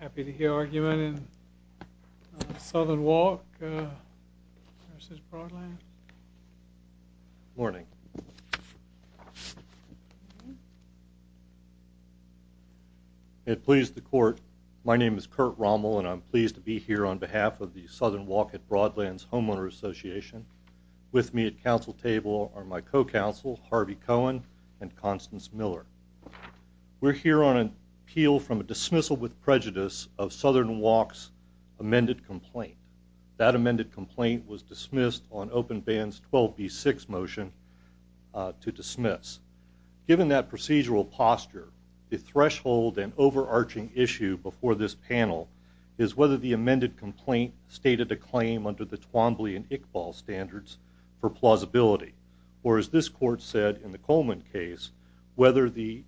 Happy to hear argument in Southern Walk versus Broadlands. Morning. It pleased the court. My name is Kurt Rommel and I'm pleased to be here on behalf of the Southern Walk at Broadlands Homeowner Association. With me at council table are my co-counsel Harvey Cohen and Constance Miller. We're here on an appeal from a dismissal with prejudice of Southern Walk's amended complaint. That amended complaint was dismissed on Openband's 12b6 motion to dismiss. Given that procedural posture, the threshold and overarching issue before this panel is whether the amended complaint stated a claim under the Twombly and Iqbal standards for plausibility, or as this court said in the Coleman case, whether the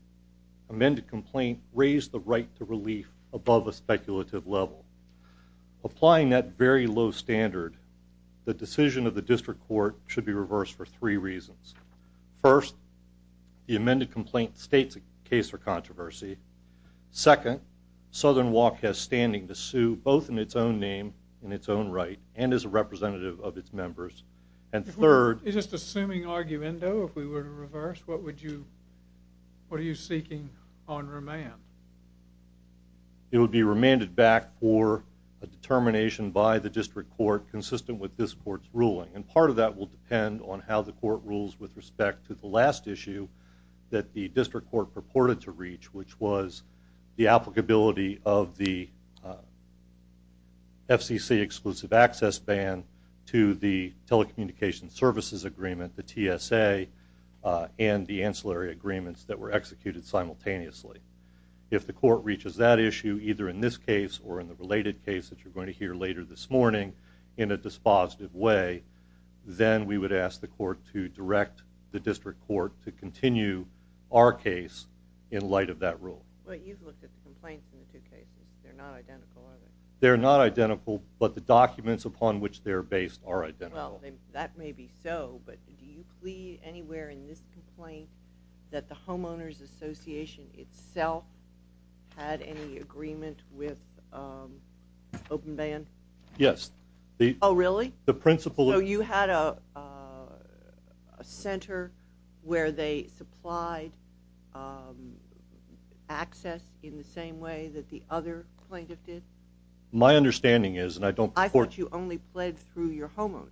amended complaint raised the right to relief above a speculative level. Applying that very low standard, the decision of the district court should be reversed for three reasons. First, the amended complaint states a case for controversy. Second, Southern Walk has standing to sue both in its own name, in its own words. And third... You're just assuming arguendo if we were to reverse? What would you, what are you seeking on remand? It would be remanded back for a determination by the district court consistent with this court's ruling and part of that will depend on how the court rules with respect to the last issue that the district court purported to reach, which was the applicability of the FCC exclusive access ban to the telecommunication services agreement, the TSA, and the ancillary agreements that were executed simultaneously. If the court reaches that issue, either in this case or in the related case that you're going to hear later this morning, in a dispositive way, then we would ask the court to direct the district court to continue our case in light of that rule. You've looked at the complaints in the two cases. They're not identical, are they? They're not identical, but the documents upon which they're based are identical. Well, that may be so, but do you plead anywhere in this complaint that the Homeowners Association itself had any agreement with open ban? Yes. Oh, really? So you had a center where they supplied access in the same way that the other plaintiff did? My understanding is, and I don't... I thought you only pled through your homeowners.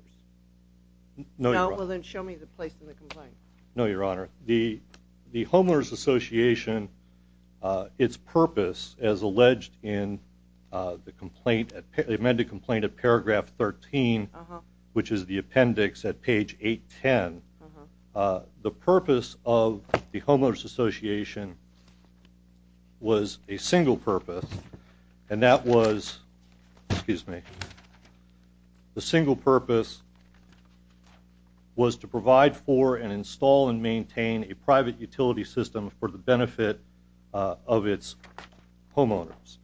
No, Your Honor. Well, then show me the place in the complaint. No, Your Honor. The Homeowners Association, its purpose as alleged in the which is the appendix at page 810, the purpose of the Homeowners Association was a single purpose and that was, excuse me, the single purpose was to provide for and install and maintain a private utility system for the benefit of its homeowners.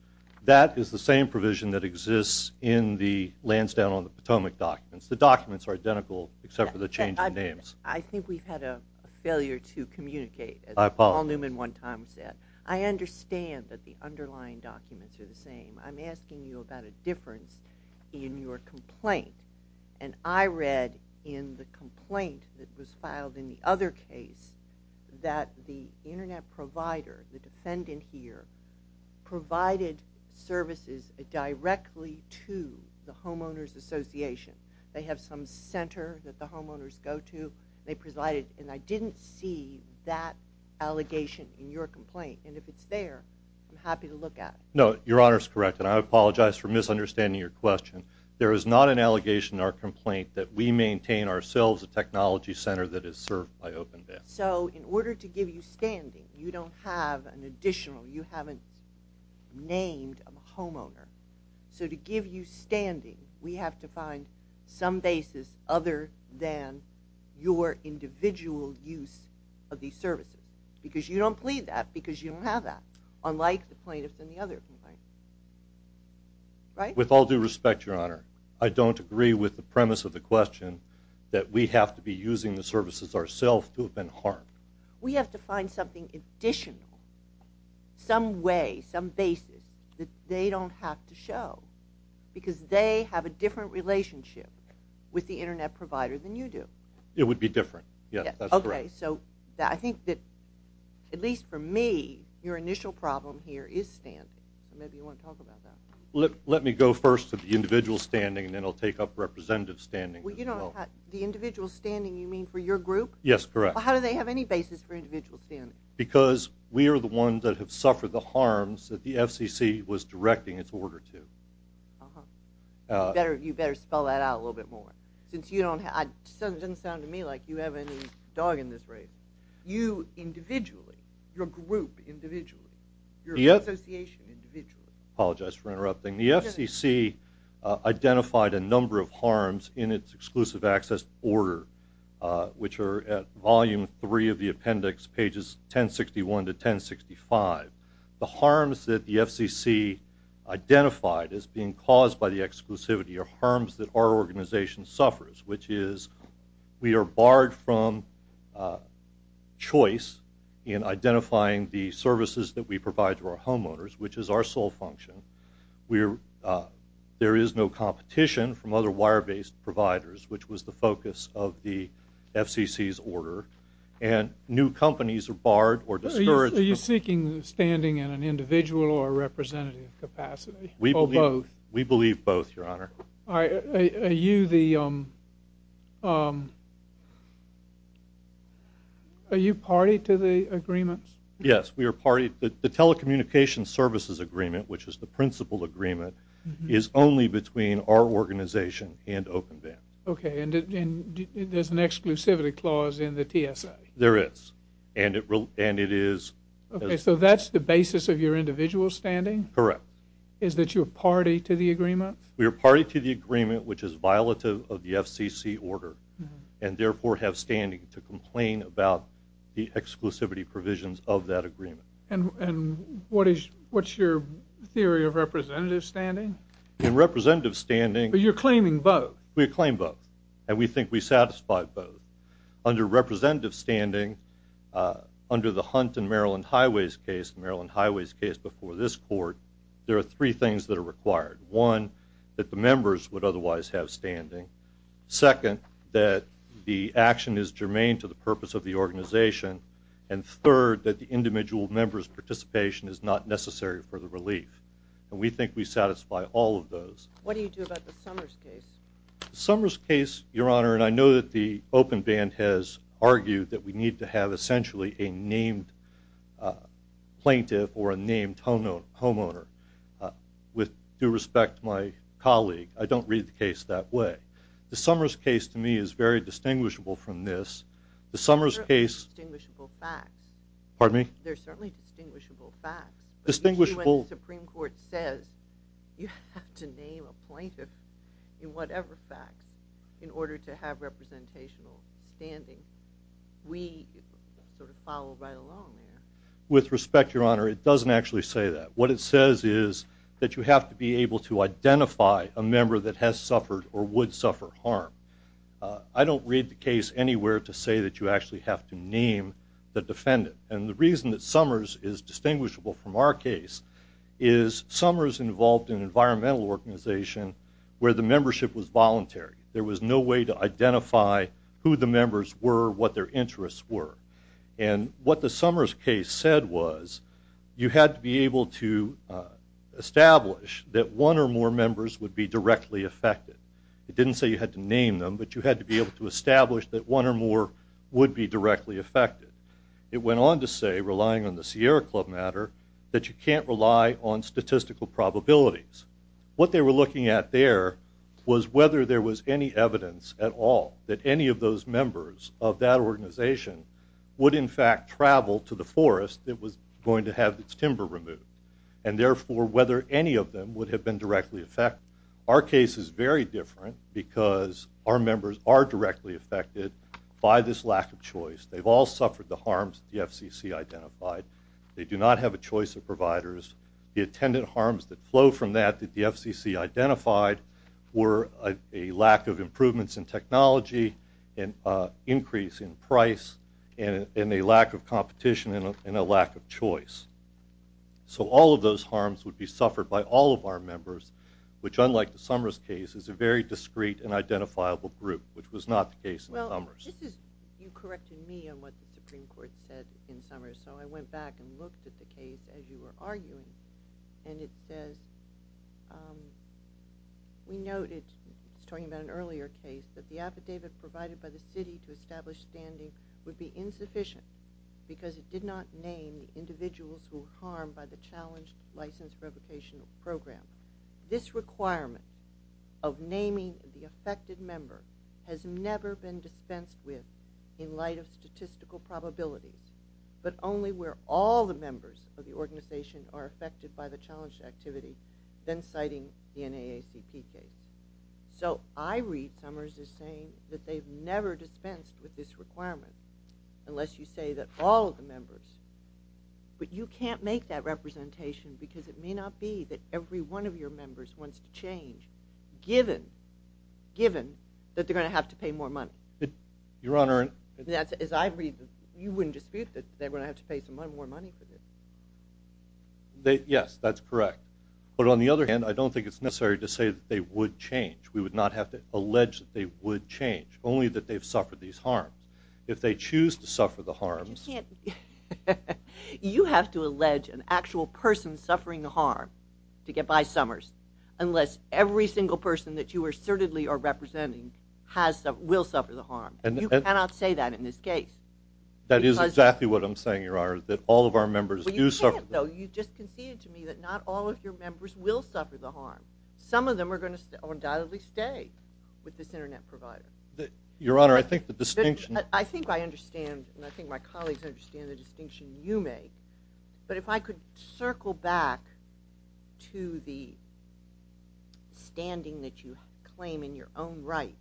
That is the same provision that exists in the Lansdowne on the documents. The documents are identical except for the change in names. I think we've had a failure to communicate, as Paul Newman one time said. I understand that the underlying documents are the same. I'm asking you about a difference in your complaint and I read in the complaint that was filed in the other case that the internet provider, the defendant here, provided services directly to the Homeowners Association. They have some center that the homeowners go to. They presided and I didn't see that allegation in your complaint and if it's there, I'm happy to look at it. No, Your Honor is correct and I apologize for misunderstanding your question. There is not an allegation in our complaint that we maintain ourselves a technology center that is served by OpenVAN. So, in order to give you standing, you don't have an additional, you haven't named a homeowner. So, to give you standing, we have to find some basis other than your individual use of these services because you don't plead that because you don't have that, unlike the plaintiffs and the other complaints. Right? With all due respect, Your Honor, I don't agree with the premise of the question that we have to be using the services ourselves to have been harmed. We have to find something additional, some way, some basis that they don't have to show because they have a different relationship with the internet provider than you do. It would be different. Yes, that's correct. Okay, so I think that, at least for me, your initial problem here is standing. Maybe you want to talk about that. Let me go first to the individual standing and then I'll take up representative standing as well. Well, you don't have the individual standing you mean for your group? Yes, correct. How do they have any individual standing? Because we are the ones that have suffered the harms that the FCC was directing its order to. You better spell that out a little bit more. Since you don't have, it doesn't sound to me like you have any dog in this race. You, individually, your group, individually, your association, individually. I apologize for interrupting. The FCC identified a number of harms in its exclusive access order which are at volume 3 of the appendix, pages 1061 to 1065. The harms that the FCC identified as being caused by the exclusivity are harms that our organization suffers, which is we are barred from choice in identifying the services that we provide to our homeowners, which is our sole function. There is no competition from other wire based providers, which was the FCC's order, and new companies are barred or discouraged. Are you seeking standing in an individual or representative capacity? We believe both, your honor. Are you the, are you party to the agreements? Yes, we are party. The telecommunication services agreement, which is the principal agreement, is only between our organization and OpenVAN. Okay, and there's an exclusivity clause in the TSA? There is, and it is. Okay, so that's the basis of your individual standing? Correct. Is that you're party to the agreement? We are party to the agreement, which is violative of the FCC order, and therefore have standing to complain about the exclusivity provisions of that agreement. And what is, what's your theory of representative standing? In representative standing... But you're claiming both? We claim both, and we think we satisfy both. Under representative standing, under the Hunt and Maryland Highways case, Maryland Highways case before this court, there are three things that are required. One, that the members would otherwise have standing. Second, that the action is members' participation is not necessary for the relief, and we think we satisfy all of those. What do you do about the Summers case? Summers case, your honor, and I know that the OpenVAN has argued that we need to have essentially a named plaintiff or a named homeowner. With due respect to my colleague, I don't read the case that way. The Summers case, to me, is very distinguishable from this. The certainly distinguishable facts. Distinguishable... The Supreme Court says you have to name a plaintiff in whatever facts in order to have representational standing. We sort of follow right along there. With respect, your honor, it doesn't actually say that. What it says is that you have to be able to identify a member that has suffered or would suffer harm. I don't read the case anywhere to say that you actually have to name the defendant. And the reason that Summers is distinguishable from our case is Summers involved in environmental organization where the membership was voluntary. There was no way to identify who the members were, what their interests were. And what the Summers case said was, you had to be able to establish that one or more members would be directly affected. It didn't say you had to name them, but you had to be able to establish that one or more would be directly affected. It went on to say, relying on the Sierra Club matter, that you can't rely on statistical probabilities. What they were looking at there was whether there was any evidence at all that any of those members of that organization would, in fact, travel to the forest that was going to have its timber removed. And therefore, whether any of them would have been directly affected. Our case is very different because our members are directly affected by this lack of choice. They've all suffered the harms the FCC identified. They do not have a choice of providers. The attendant harms that flow from that that the FCC identified were a lack of improvements in technology, an increase in price, and a lack of competition, and a lack of choice. So all of those harms would be suffered by all of our members, which unlike the Summers case, is a very Well, this is, you corrected me on what the Supreme Court said in Summers, so I went back and looked at the case as you were arguing, and it says, we noted, it's talking about an earlier case, that the affidavit provided by the city to establish standing would be insufficient because it did not name individuals who were harmed by the challenged license revocation program. This requirement of dispensed with in light of statistical probabilities, but only where all the members of the organization are affected by the challenge activity, then citing the NAACP case. So I read Summers as saying that they've never dispensed with this requirement, unless you say that all of the members. But you can't make that representation because it may not be that every one of your members wants to Your Honor, as I read, you wouldn't dispute that they're going to have to pay some more money for this. Yes, that's correct. But on the other hand, I don't think it's necessary to say that they would change. We would not have to allege that they would change, only that they've suffered these harms. If they choose to suffer the harms, you have to allege an actual person suffering the harm to get by Summers, unless every single person that you assertedly are You cannot say that in this case. That is exactly what I'm saying, Your Honor, that all of our members do suffer the harm. You just conceded to me that not all of your members will suffer the harm. Some of them are going to undoubtedly stay with this internet provider. Your Honor, I think the distinction... I think I understand, and I think my colleagues understand the distinction you make, but if I could circle back to the standing that you own right,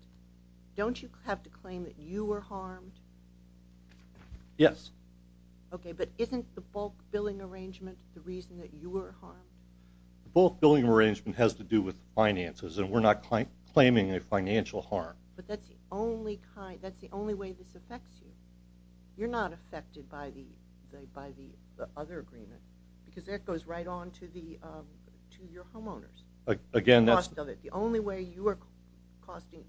don't you have to claim that you were harmed? Yes. Okay, but isn't the bulk billing arrangement the reason that you were harmed? The bulk billing arrangement has to do with finances, and we're not claiming a financial harm. But that's the only kind... that's the only way this affects you. You're not affected by the other agreement, because that goes right on to your homeowners. Again, that's... the only way you are costing...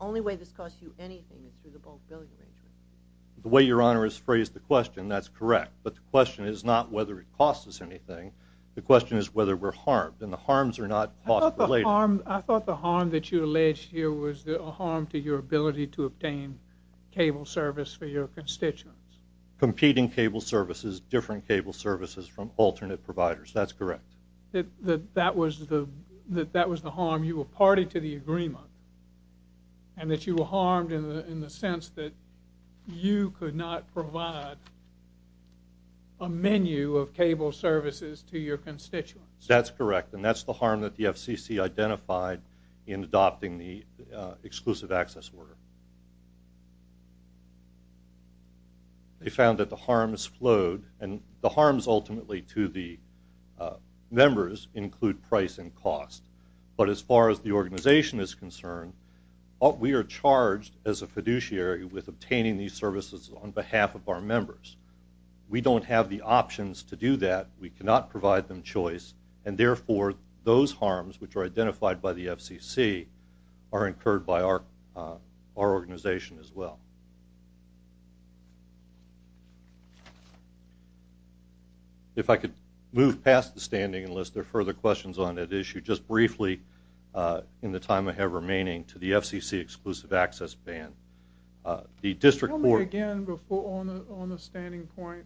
only way this costs you anything is through the bulk billing arrangement. The way Your Honor has phrased the question, that's correct, but the question is not whether it costs us anything. The question is whether we're harmed, and the harms are not cost related. I thought the harm that you alleged here was a harm to your ability to obtain cable service for your constituents. Competing cable services, different cable services from alternate providers. That's correct. That was the... that was the harm. You were party to the agreement, and that you were harmed in the sense that you could not provide a menu of cable services to your constituents. That's correct, and that's the harm that the FCC identified in adopting the exclusive access order. They found that the harms flowed, and the costs, but as far as the organization is concerned, we are charged as a fiduciary with obtaining these services on behalf of our members. We don't have the options to do that. We cannot provide them choice, and therefore those harms, which are identified by the FCC, are incurred by our organization as well. If I could move past the standing, unless there are further questions on that issue, just briefly in the time I have remaining to the FCC exclusive access ban. The district board... Tell me again on the standing point.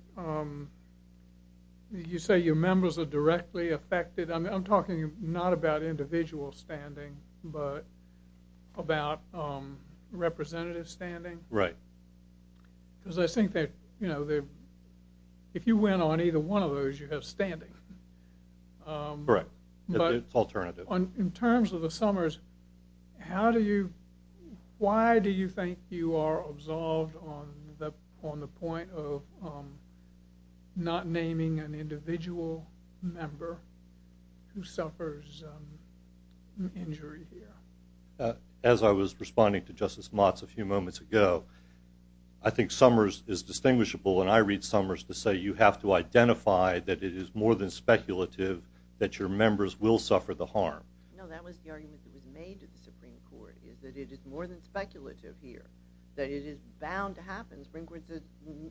You say your members are directly affected. I'm talking not about individual standing, but about representative standing. Right. Because I think that, you know, if you went on either one of those, you have standing. Correct, but it's alternative. In terms of the Summers, how do you... why do you think you are absolved on the point of not naming an individual member who suffers injury here? As I was responding to Justice Motz a few moments ago, I think Summers is distinguishable, and I read Summers to say you have to identify that it is more than speculative that your members will suffer the harm. No, that was the argument that was made to the Supreme Court, is that it is more than speculative here. That it is bound to happen. The Supreme Court says,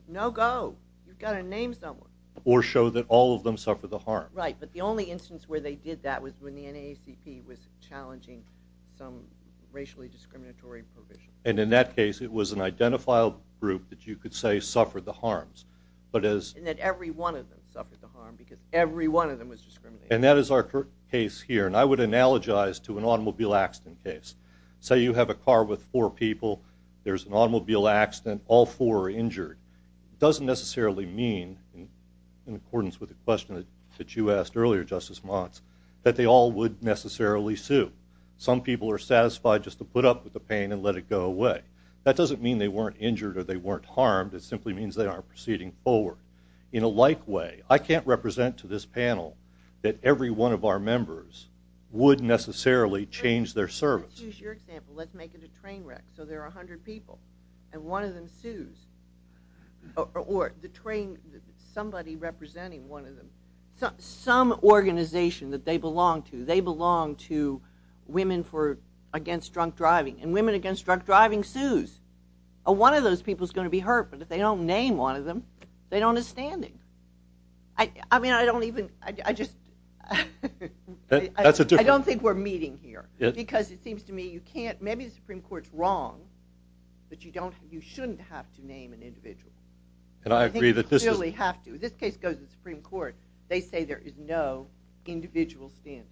no go. You've got to name someone. Or show that all of them suffer the harm. Right, but the only instance where they did that was when the NAACP was challenging some racially discriminatory provisions. And in that case, it was an identifiable group that you could say suffered the harms. And that every one of them suffered the harm because every one of them was discriminated against. And that is our case here, and I would analogize to an automobile accident case. Say you have a car with four people, there's an automobile accident, all four are injured. It doesn't necessarily mean, in accordance with the question that you asked earlier, Justice Motz, that they all would necessarily sue. Some people are satisfied just to put up with the pain and let it go away. That doesn't mean they weren't injured or they weren't harmed. It simply means they aren't proceeding forward. In a like way, I can't represent to this panel that every one of our members would necessarily change their service. Let's use your example. Let's make it a train wreck. So there are 100 people, and one of them sues. Or somebody representing one of them. Some organization that they belong to. They belong to Women Against Drunk Driving. And Women Against Drunk Driving sues. One of those people is going to be hurt, but if they don't name one of them, they don't have standing. I don't think we're meeting here. Because it seems to me, maybe the Supreme Court's wrong, but you shouldn't have to name an individual. I think you clearly have to. If this case goes to the Supreme Court, they say there is no individual standing.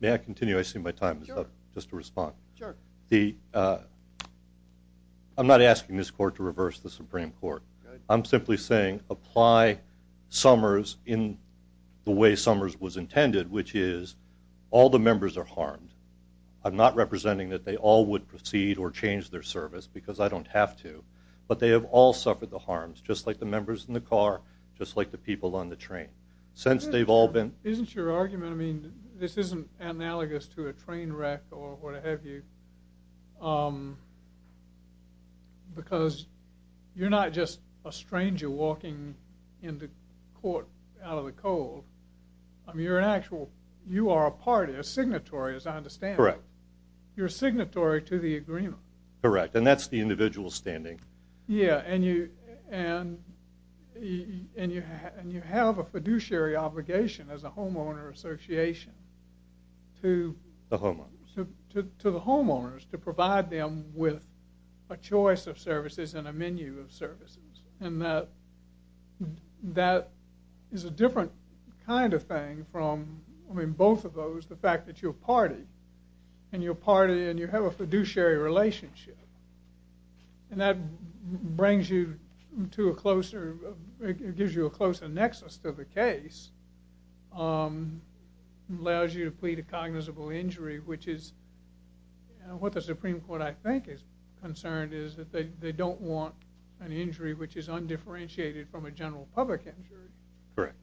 May I continue? I see my time is up. Just to respond. I'm not asking this court to reverse the Supreme Court. I'm simply saying, apply Summers in the way Summers was intended, which is, all the members are harmed. I'm not representing that they all would proceed or change their service, because I don't have to. But they have all suffered the harms, just like the members in the car, just like the people on the train. Isn't your argument, I mean, this isn't analogous to a train wreck or what have you, because you're not just a stranger walking into court out of the cold. I mean, you're an actual, you are a party, a signatory, as I understand it. You're a signatory to the agreement. Correct. And that's the individual standing. Yeah, and you have a fiduciary obligation as a homeowner association to the homeowners to provide them with a choice of services and a menu of services. And that is a different kind of thing from, I mean, both of those, the fact that you're a party, and you're a party and you have a fiduciary relationship. And that brings you to a closer, gives you a closer nexus to the case, allows you to plead a cognizable injury, which is what the Supreme Court, I think, is concerned is that they don't want an injury which is undifferentiated from a general public injury. Correct.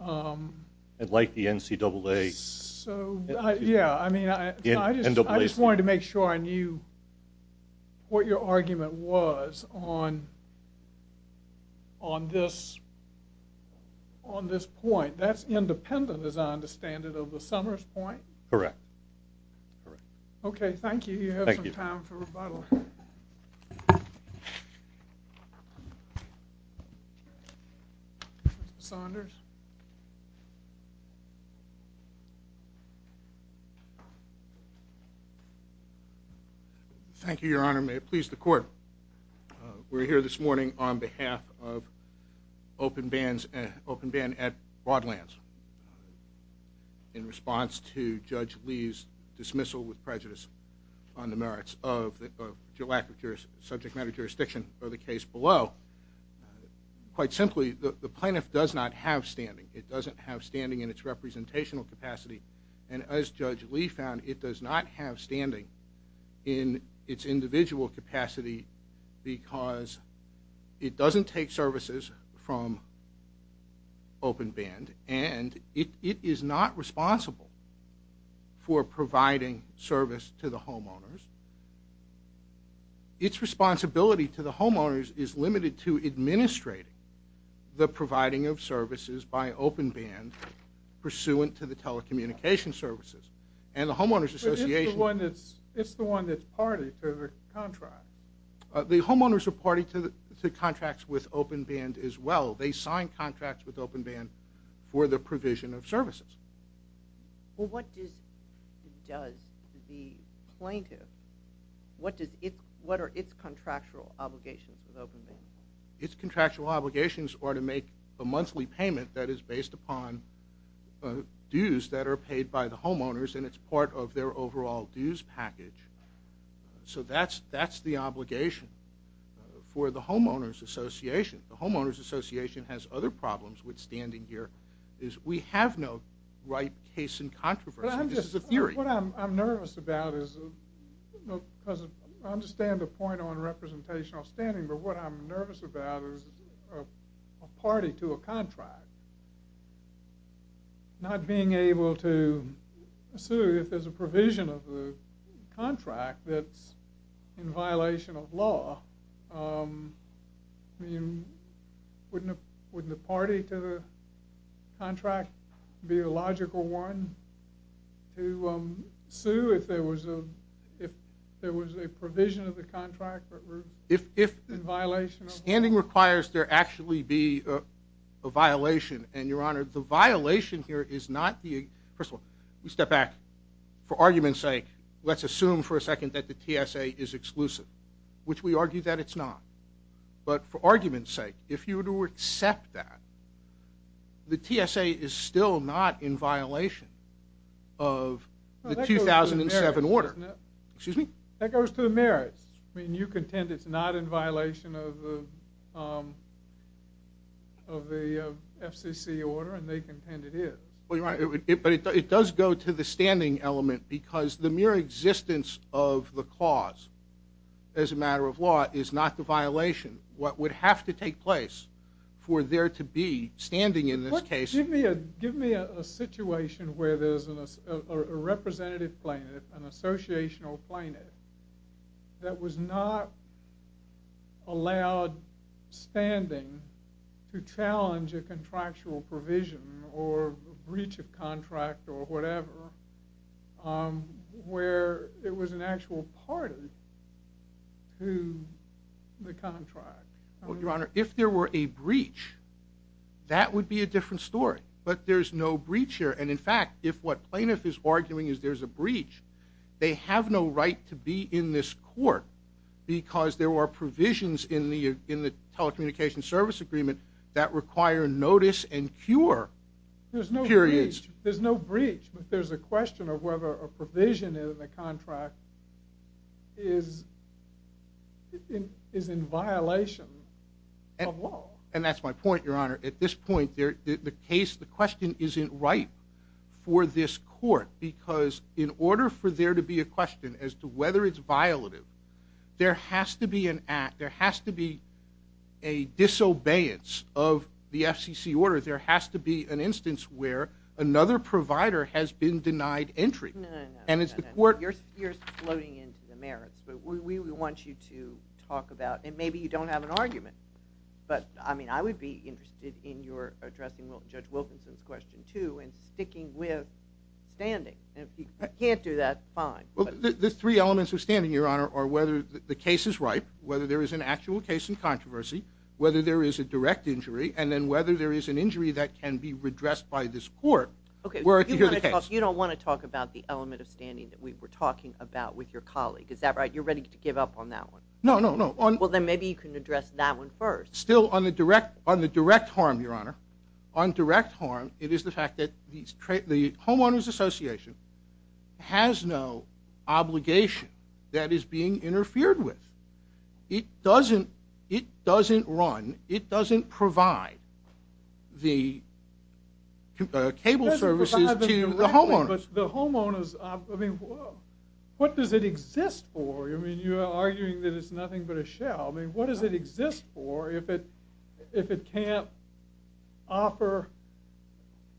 And like the NCAA. So, yeah, I mean, I just wanted to make sure I knew what your argument was on this point. That's independent, as I understand it, of the Summers point? Correct. Okay, thank you. You have some time for rebuttal. Mr. Saunders? Thank you, Your Honor. May it please the Court. We're here this morning on behalf of Open Band at Broadlands in response to Judge Lee's dismissal with prejudice on the merits of the lack of subject matter jurisdiction for the case below. Quite simply, the plaintiff does not have standing. It doesn't have standing in its representational capacity. And as Judge Lee found, it does not have standing in its individual capacity because it doesn't take services from Open Band, and it is not responsible for providing service to the homeowners. Its responsibility to the homeowners is limited to administrating the providing of services by Open Band pursuant to the telecommunications services. It's the one that's party to the contract. The homeowners are party to the contracts with Open Band as well. They sign contracts with Open Band for the provision of services. Well, what does the plaintiff, what are its contractual obligations with Open Band? Its contractual obligations are to make a monthly payment that is based upon dues that are paid by the homeowners, and it's part of their overall dues package. So that's the obligation for the homeowners association. The homeowners association has other problems with standing here is we have no right case in controversy. This is a theory. What I'm nervous about is, because I understand the point on representational standing, but what I'm nervous about is a party to a contract. Not being able to sue if there's a provision of the contract that's in violation of law. I mean, wouldn't a party to the contract be a logical one to sue if there was a provision of the contract that was in violation of law? Standing requires there actually be a violation, and your honor, the violation here is not the... First of all, we step back. For argument's sake, let's assume for a second that the TSA is exclusive, which we argue that it's not. But for argument's sake, if you were to accept that, the TSA is still not in violation of the 2007 order. Excuse me? That goes to the merits. I mean, you contend it's not in violation of the FCC order, and they contend it is. But it does go to the standing element because the mere existence of the cause as a matter of law is not the violation. What would have to take place for there to be standing in this case... Give me a situation where there's a representative plaintiff, an associational plaintiff, that was not allowed standing to challenge a contractual provision or breach of contract or whatever, where it was an actual party to the contract. Well, your honor, if there were a breach, that would be a different story. But there's no breach here. And in fact, if what plaintiff is arguing is there's a breach, they have no right to be in this court because there are provisions in the telecommunications service agreement that require notice and cure. There's no breach. But there's a question of whether a provision in the contract is in violation of law. And that's my point, your honor. At this point, the question isn't ripe for this court. Because in order for there to be a question as to whether it's violative, there has to be an act, there has to be a disobedience of the FCC order. There has to be an instance where another provider has been denied entry. No, no, no. You're floating into the merits. But we want you to talk about, and maybe you don't have an argument, but I would be interested in your addressing Judge Wilkinson's question, too, and sticking with standing. And if you can't do that, fine. The three elements of standing, your honor, are whether the case is ripe, whether there is an actual case in controversy, whether there is a direct injury, and then whether there is an injury that can be redressed by this court. You don't want to talk about the element of standing that we were talking about with your colleague. Is that right? You're ready to give up on that one? No, no, no. Well, then maybe you can address that one first. Still, on the direct harm, your honor, on direct harm, it is the fact that the Homeowners Association has no obligation that is being interfered with. It doesn't run. It doesn't provide the cable services to the homeowners. But the homeowners, I mean, what does it exist for? I mean, you're arguing that it's nothing but a shell. I mean, what does it exist for if it can't offer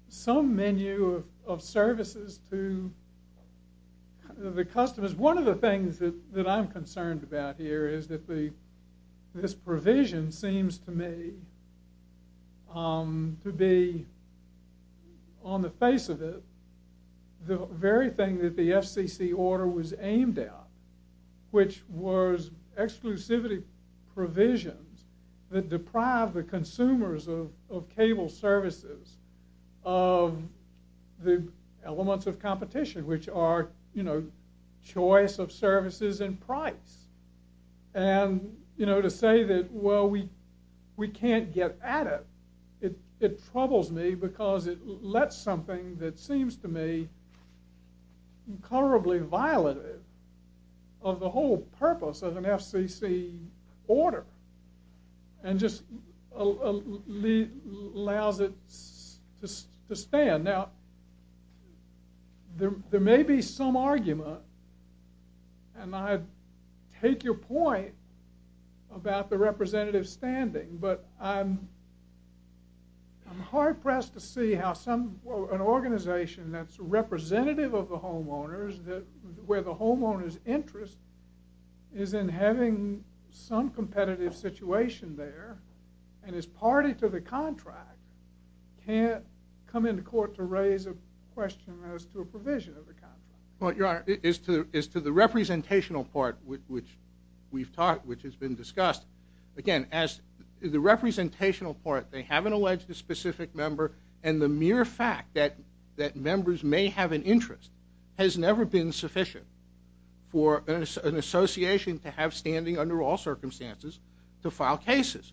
some menu of services to the customers? One of the things that I'm concerned about here is that this provision seems to me to be, on the face of it, the very thing that the FCC order was aimed at, which was exclusivity provisions that deprive the consumers of cable services, of the elements of competition, which are choice of services and price. And to say that, well, we can't get at it, it troubles me because it lets something that seems to me incolorably violative of the whole purpose of an FCC order and just allows it to stand. Now, there may be some argument, and I take your point about the representative standing, but I'm hard-pressed to see how an organization that's representative of the homeowners, where the homeowner's interest is in having some competitive situation there, and is party to the contract, can't come into court to raise a question as to a provision of the contract. Well, Your Honor, as to the representational part, which we've talked, which has been discussed, again, as the representational part, they haven't alleged a specific member, and the mere fact that members may have an interest has never been sufficient for an association to have standing under all circumstances to file cases.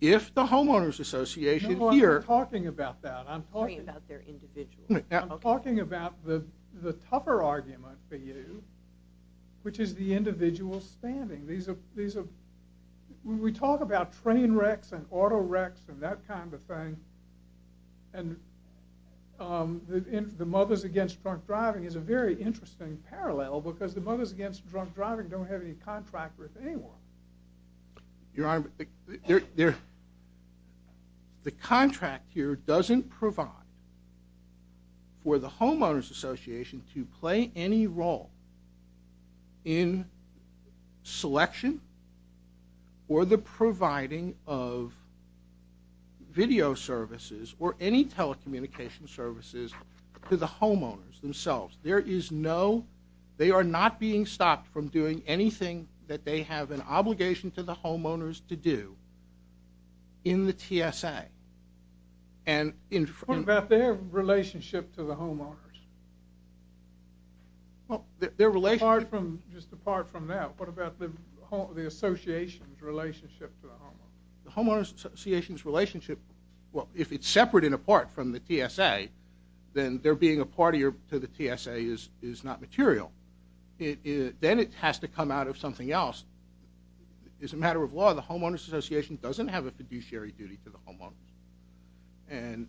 If the homeowners association here... No, I'm not talking about that. I'm talking about their individual. I'm talking about the tougher argument for you, which is the individual standing. These are... When we talk about train wrecks and auto wrecks and that kind of thing, and the Mothers Against Drunk Driving is a very interesting parallel because the Mothers Against Drunk Driving don't have any contract with anyone. Your Honor, the contract here doesn't provide for the homeowners association to play any role in selection or the providing of video services or any telecommunication services to the homeowners themselves. There is no... They are not being stopped from doing anything that they have an obligation to the homeowners to do in the TSA. And... What about their relationship to the homeowners? Well, their relationship... The homeowners association's relationship... Well, if it's separate and apart from the TSA, then their being a partier to the TSA is not material. Then it has to come out of something else. It's a matter of law. The homeowners association doesn't have a fiduciary duty to the homeowners. And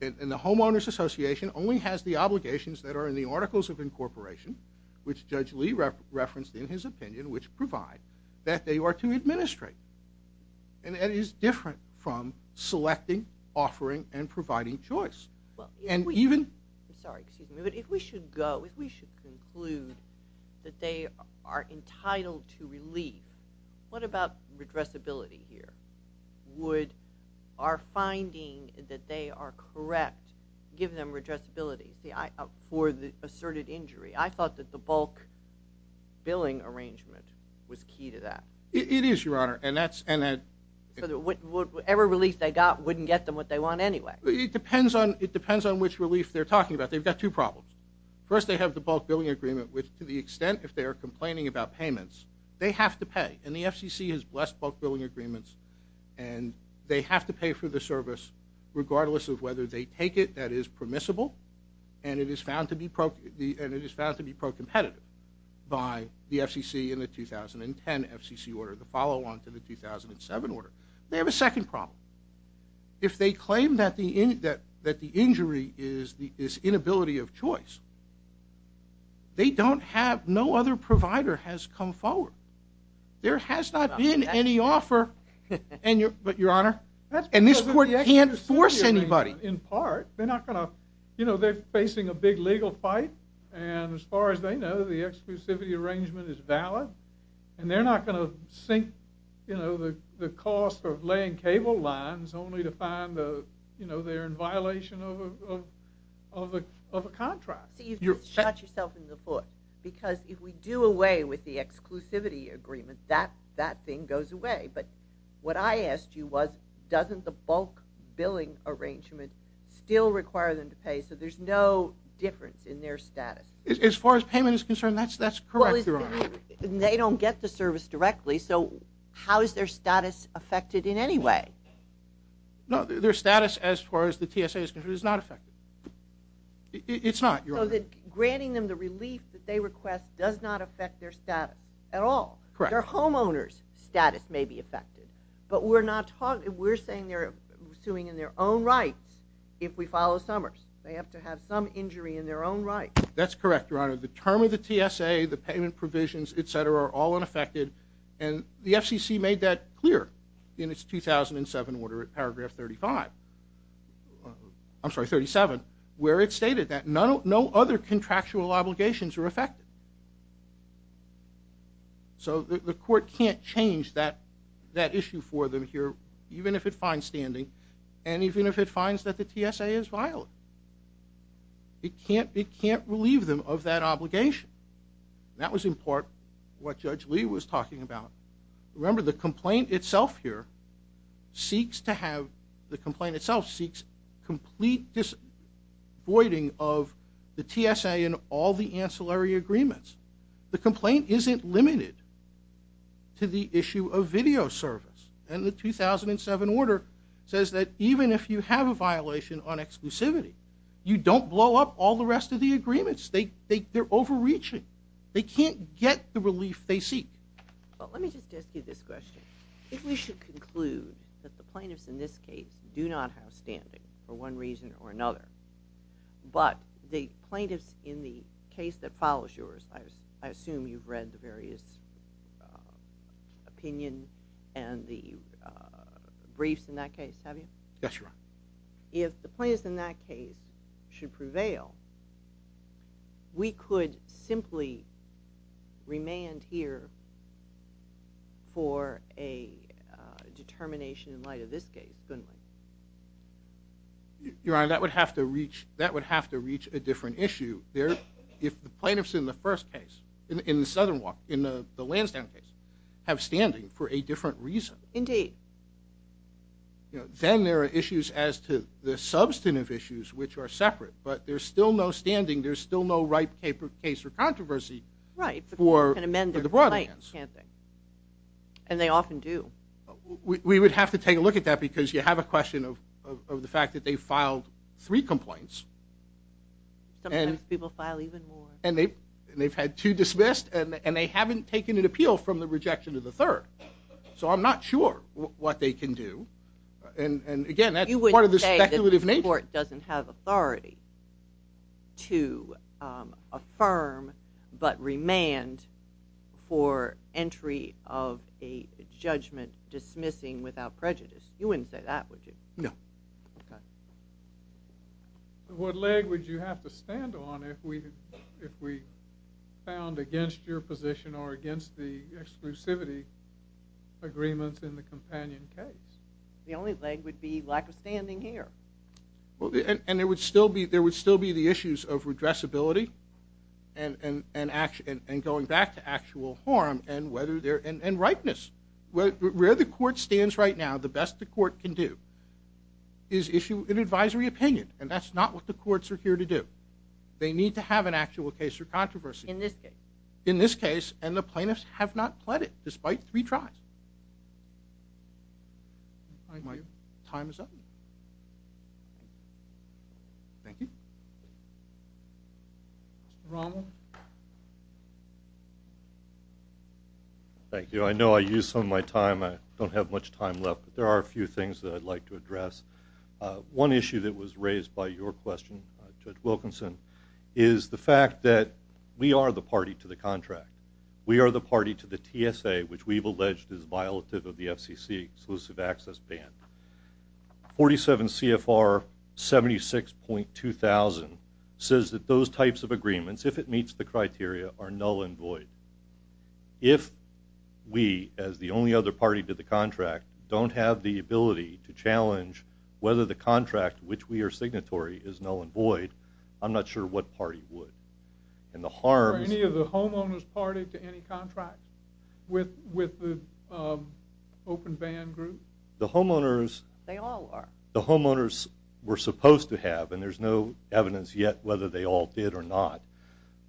the homeowners association only has the obligations that are in the Articles of Incorporation, which Judge Lee referenced in his opinion, that they are to administrate. And that is different from selecting, offering, and providing choice. And even... I'm sorry, excuse me, but if we should go, if we should conclude that they are entitled to relief, what about redressability here? Would our finding that they are correct give them redressability for the asserted injury? I thought that the bulk billing arrangement was key to that. It is, Your Honor, and that's... So whatever relief they got wouldn't get them what they want anyway? It depends on which relief they're talking about. They've got two problems. First, they have the bulk billing agreement, which to the extent if they are complaining about payments, they have to pay. And the FCC has blessed bulk billing agreements, and they have to pay for the service regardless of whether they take it that is permissible, and it is found to be pro-competitive by the FCC in the 2010 FCC order, the follow-on to the 2007 order. They have a second problem. If they claim that the injury is inability of choice, they don't have... No other provider has come forward. There has not been any offer, but, Your Honor, and this court can't force anybody. In part, they're not going to... You know, they're facing a big legal fight, and as far as they know, the exclusivity arrangement is valid, and they're not going to sink, you know, the cost of laying cable lines only to find, you know, they're in violation of a contract. See, you've just shot yourself in the foot, because if we do away with the exclusivity agreement, that thing goes away. But what I asked you was, doesn't the bulk billing arrangement still require them to pay, so there's no difference in their status? As far as payment is concerned, that's correct, Your Honor. They don't get the service directly, so how is their status affected in any way? No, their status, as far as the TSA is concerned, is not affected. It's not, Your Honor. So granting them the relief that they request does not affect their status at all? Correct. Their homeowner's status may be affected, but we're saying they're suing in their own rights if we follow Summers. They have to have some injury in their own rights. That's correct, Your Honor. The term of the TSA, the payment provisions, et cetera, are all unaffected, and the FCC made that clear in its 2007 order at paragraph 35. I'm sorry, 37, where it stated that no other contractual obligations are affected. So the court can't change that issue for them here, even if it finds standing, and even if it finds that the TSA is violent. It can't relieve them of that obligation. That was, in part, what Judge Lee was talking about. Remember, the complaint itself here seeks to have... The complaint itself seeks complete voiding of the TSA and all the ancillary agreements. The complaint isn't limited to the issue of video service, and the 2007 order says that even if you have a violation on exclusivity, you don't blow up all the rest of the agreements. They're overreaching. They can't get the relief they seek. Well, let me just ask you this question. If we should conclude that the plaintiffs in this case do not have standing for one reason or another, but the plaintiffs in the case that follows yours, I assume you've read the various opinion and the briefs in that case, have you? Yes, Your Honor. If the plaintiffs in that case should prevail, we could simply remain here for a determination in light of this case, couldn't we? Your Honor, that would have to reach a different issue. If the plaintiffs in the first case, in the Lansdowne case, have standing for a different reason, then there are issues as to the substantive issues which are separate. But there's still no standing, there's still no right case or controversy for the Brotherlands. And they often do. We would have to take a look at that because you have a question of the fact that they filed three complaints. Sometimes people file even more. And they've had two dismissed, and they haven't taken an appeal from the rejection of the third. So I'm not sure what they can do. And again, that's part of the speculative nature. You wouldn't say that the court doesn't have authority to affirm but remand for entry of a judgment dismissing without prejudice. You wouldn't say that, would you? No. What leg would you have to stand on if we found against your position or against the exclusivity agreements in the companion case? The only leg would be lack of standing here. And there would still be the issues of redressability and going back to actual harm and rightness. Where the court stands right now, the best the court can do is issue an advisory opinion. And that's not what the courts are here to do. They need to have an actual case or controversy. In this case. In this case, and the plaintiffs have not pled it despite three tries. My time is up. Thank you. Mr. Rommel. Thank you. I know I used some of my time. I don't have much time left. But there are a few things that I'd like to address. One issue that was raised by your question, Judge Wilkinson, is the fact that we are the party to the contract. We are the party to the TSA, which we've alleged is violative of the FCC, Exclusive Access Ban. 47 CFR 76.2000 says that those types of agreements, if it meets the criteria, are null and void. If we, as the only other party to the contract, don't have the ability to challenge whether the contract which we are signatory is null and void, I'm not sure what party would. Are any of the homeowners party to any contract with the open ban group? They all are. The homeowners were supposed to have, and there's no evidence yet whether they all did or not,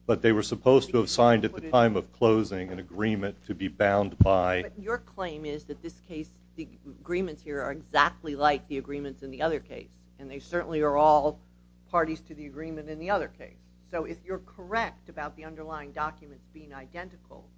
but they were supposed to have signed at the time of closing an agreement to be bound by. But your claim is that this case, the agreements here are exactly like the agreements in the other case, and they certainly are all parties to the agreement in the other case. So if you're correct about the underlying documents being identical,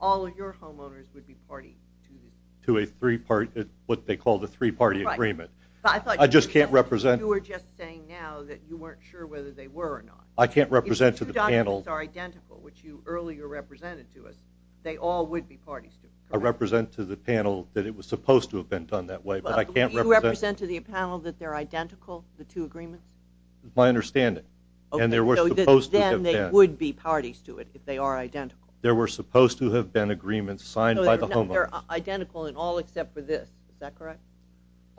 all of your homeowners would be party to this. To a three-party, what they call the three-party agreement. I just can't represent. You were just saying now that you weren't sure whether they were or not. I can't represent to the panel. If the two documents are identical, which you earlier represented to us, they all would be parties to it, correct? I represent to the panel that it was supposed to have been done that way, but I can't represent. You represent to the panel that they're identical, the two agreements? That's my understanding. Then they would be parties to it if they are identical. There were supposed to have been agreements signed by the homeowners. They're identical in all except for this. Is that correct?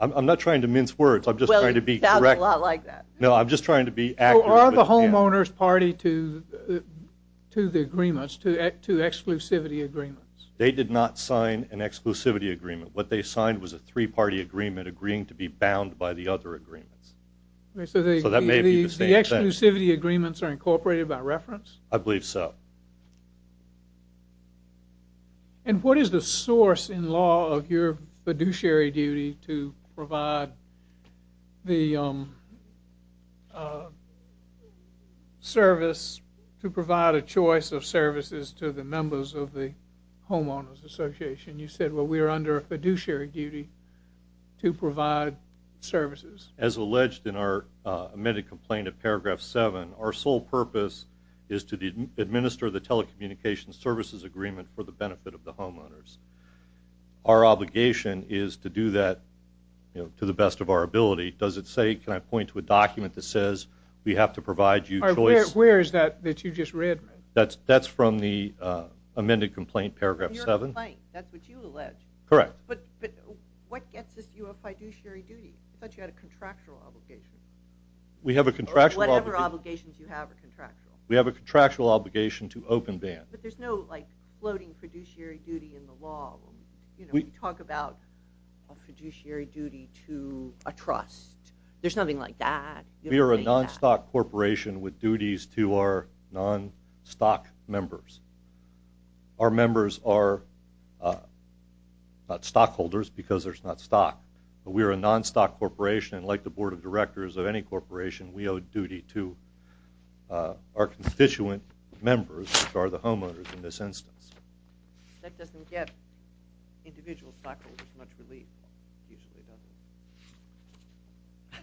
I'm not trying to mince words. I'm just trying to be correct. Well, you sound a lot like that. No, I'm just trying to be accurate. So are the homeowners party to the agreements, to exclusivity agreements? They did not sign an exclusivity agreement. What they signed was a three-party agreement agreeing to be bound by the other agreements. So that may be the same thing. So the exclusivity agreements are incorporated by reference? I believe so. And what is the source in law of your fiduciary duty to provide the service, to provide a choice of services to the members of the homeowners association? You said, well, we are under a fiduciary duty to provide services. As alleged in our amended complaint at paragraph seven, our sole purpose is to administer the telecommunications services agreement for the benefit of the homeowners. Our obligation is to do that to the best of our ability. Does it say, can I point to a document that says we have to provide you choice? Where is that that you just read? That's from the amended complaint, paragraph seven. That's what you allege. Correct. But what gets us to a fiduciary duty? I thought you had a contractual obligation. We have a contractual obligation. Whatever obligations you have are contractual. We have a contractual obligation to open band. But there's no, like, floating fiduciary duty in the law. You know, we talk about a fiduciary duty to a trust. There's nothing like that. We are a non-stock corporation with duties to our non-stock members. Our members are not stockholders because there's not stock. But we are a non-stock corporation, and like the board of directors of any corporation, we owe duty to our constituent members, which are the homeowners in this instance. That doesn't get individual stockholders much relief, usually, does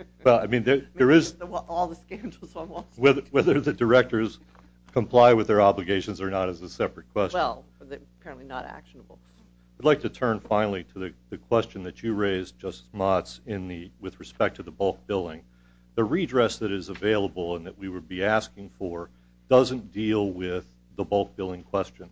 it? Well, I mean, there is – All the scandals on Wall Street. Whether the directors comply with their obligations or not is a separate question. Well, they're apparently not actionable. I'd like to turn finally to the question that you raised, Justice Motz, with respect to the bulk billing. The redress that is available and that we would be asking for doesn't deal with the bulk billing question.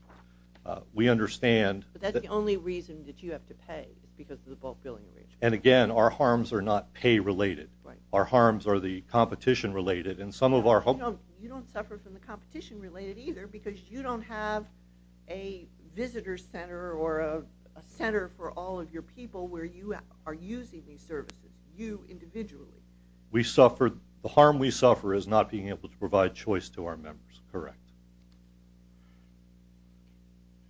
We understand that – But that's the only reason that you have to pay, is because of the bulk billing arrangement. And, again, our harms are not pay-related. Our harms are the competition-related. And some of our – You don't suffer from the competition-related either because you don't have a visitor center or a center for all of your people where you are using these services, you individually. We suffer – The harm we suffer is not being able to provide choice to our members. Correct.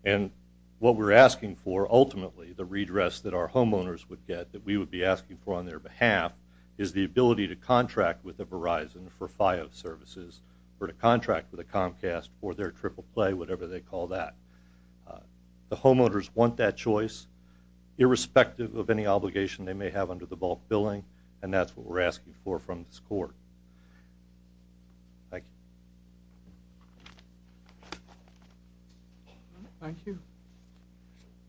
And what we're asking for, ultimately, the redress that our homeowners would get, that we would be asking for on their behalf, is the ability to contract with Verizon for FIO services or to contract with a Comcast for their triple play, whatever they call that. The homeowners want that choice, irrespective of any obligation they may have under the bulk billing, and that's what we're asking for from this court. Thank you. Thank you.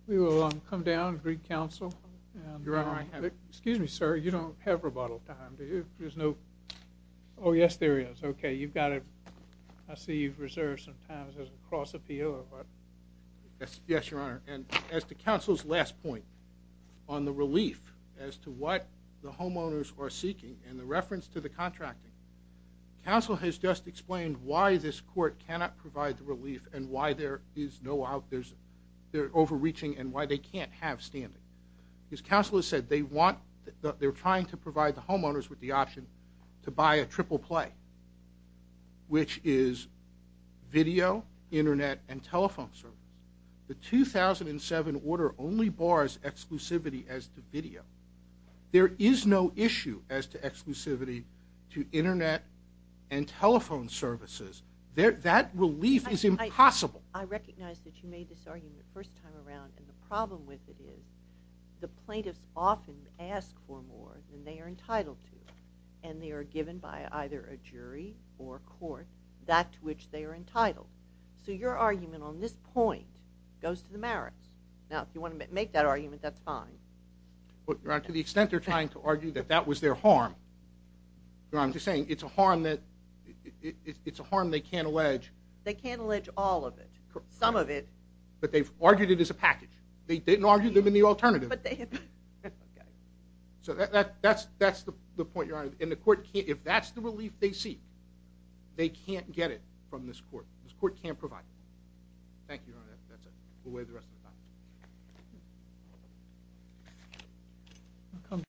We will come down and greet counsel. Excuse me, sir. You don't have rebuttal time, do you? There's no – Oh, yes, there is. Okay, you've got it. I see you've reserved some time. Is there a cross appeal or what? Yes, Your Honor. And as to counsel's last point on the relief as to what the homeowners are seeking and the reference to the contracting, counsel has just explained why this court cannot provide the relief and why there is no – they're overreaching and why they can't have standing. Because counsel has said they want – which is video, Internet, and telephone services. The 2007 order only bars exclusivity as to video. There is no issue as to exclusivity to Internet and telephone services. That relief is impossible. I recognize that you made this argument the first time around, and the problem with it is the plaintiffs often ask for more than they are entitled to, and they are given by either a jury or court that to which they are entitled. So your argument on this point goes to the merits. Now, if you want to make that argument, that's fine. But, Your Honor, to the extent they're trying to argue that that was their harm, Your Honor, I'm just saying it's a harm that – it's a harm they can't allege. They can't allege all of it, some of it. But they've argued it as a package. They didn't argue them in the alternative. So that's the point, Your Honor. If that's the relief they seek, they can't get it from this court. This court can't provide it. Thank you, Your Honor. That's it. We'll wait the rest of the time.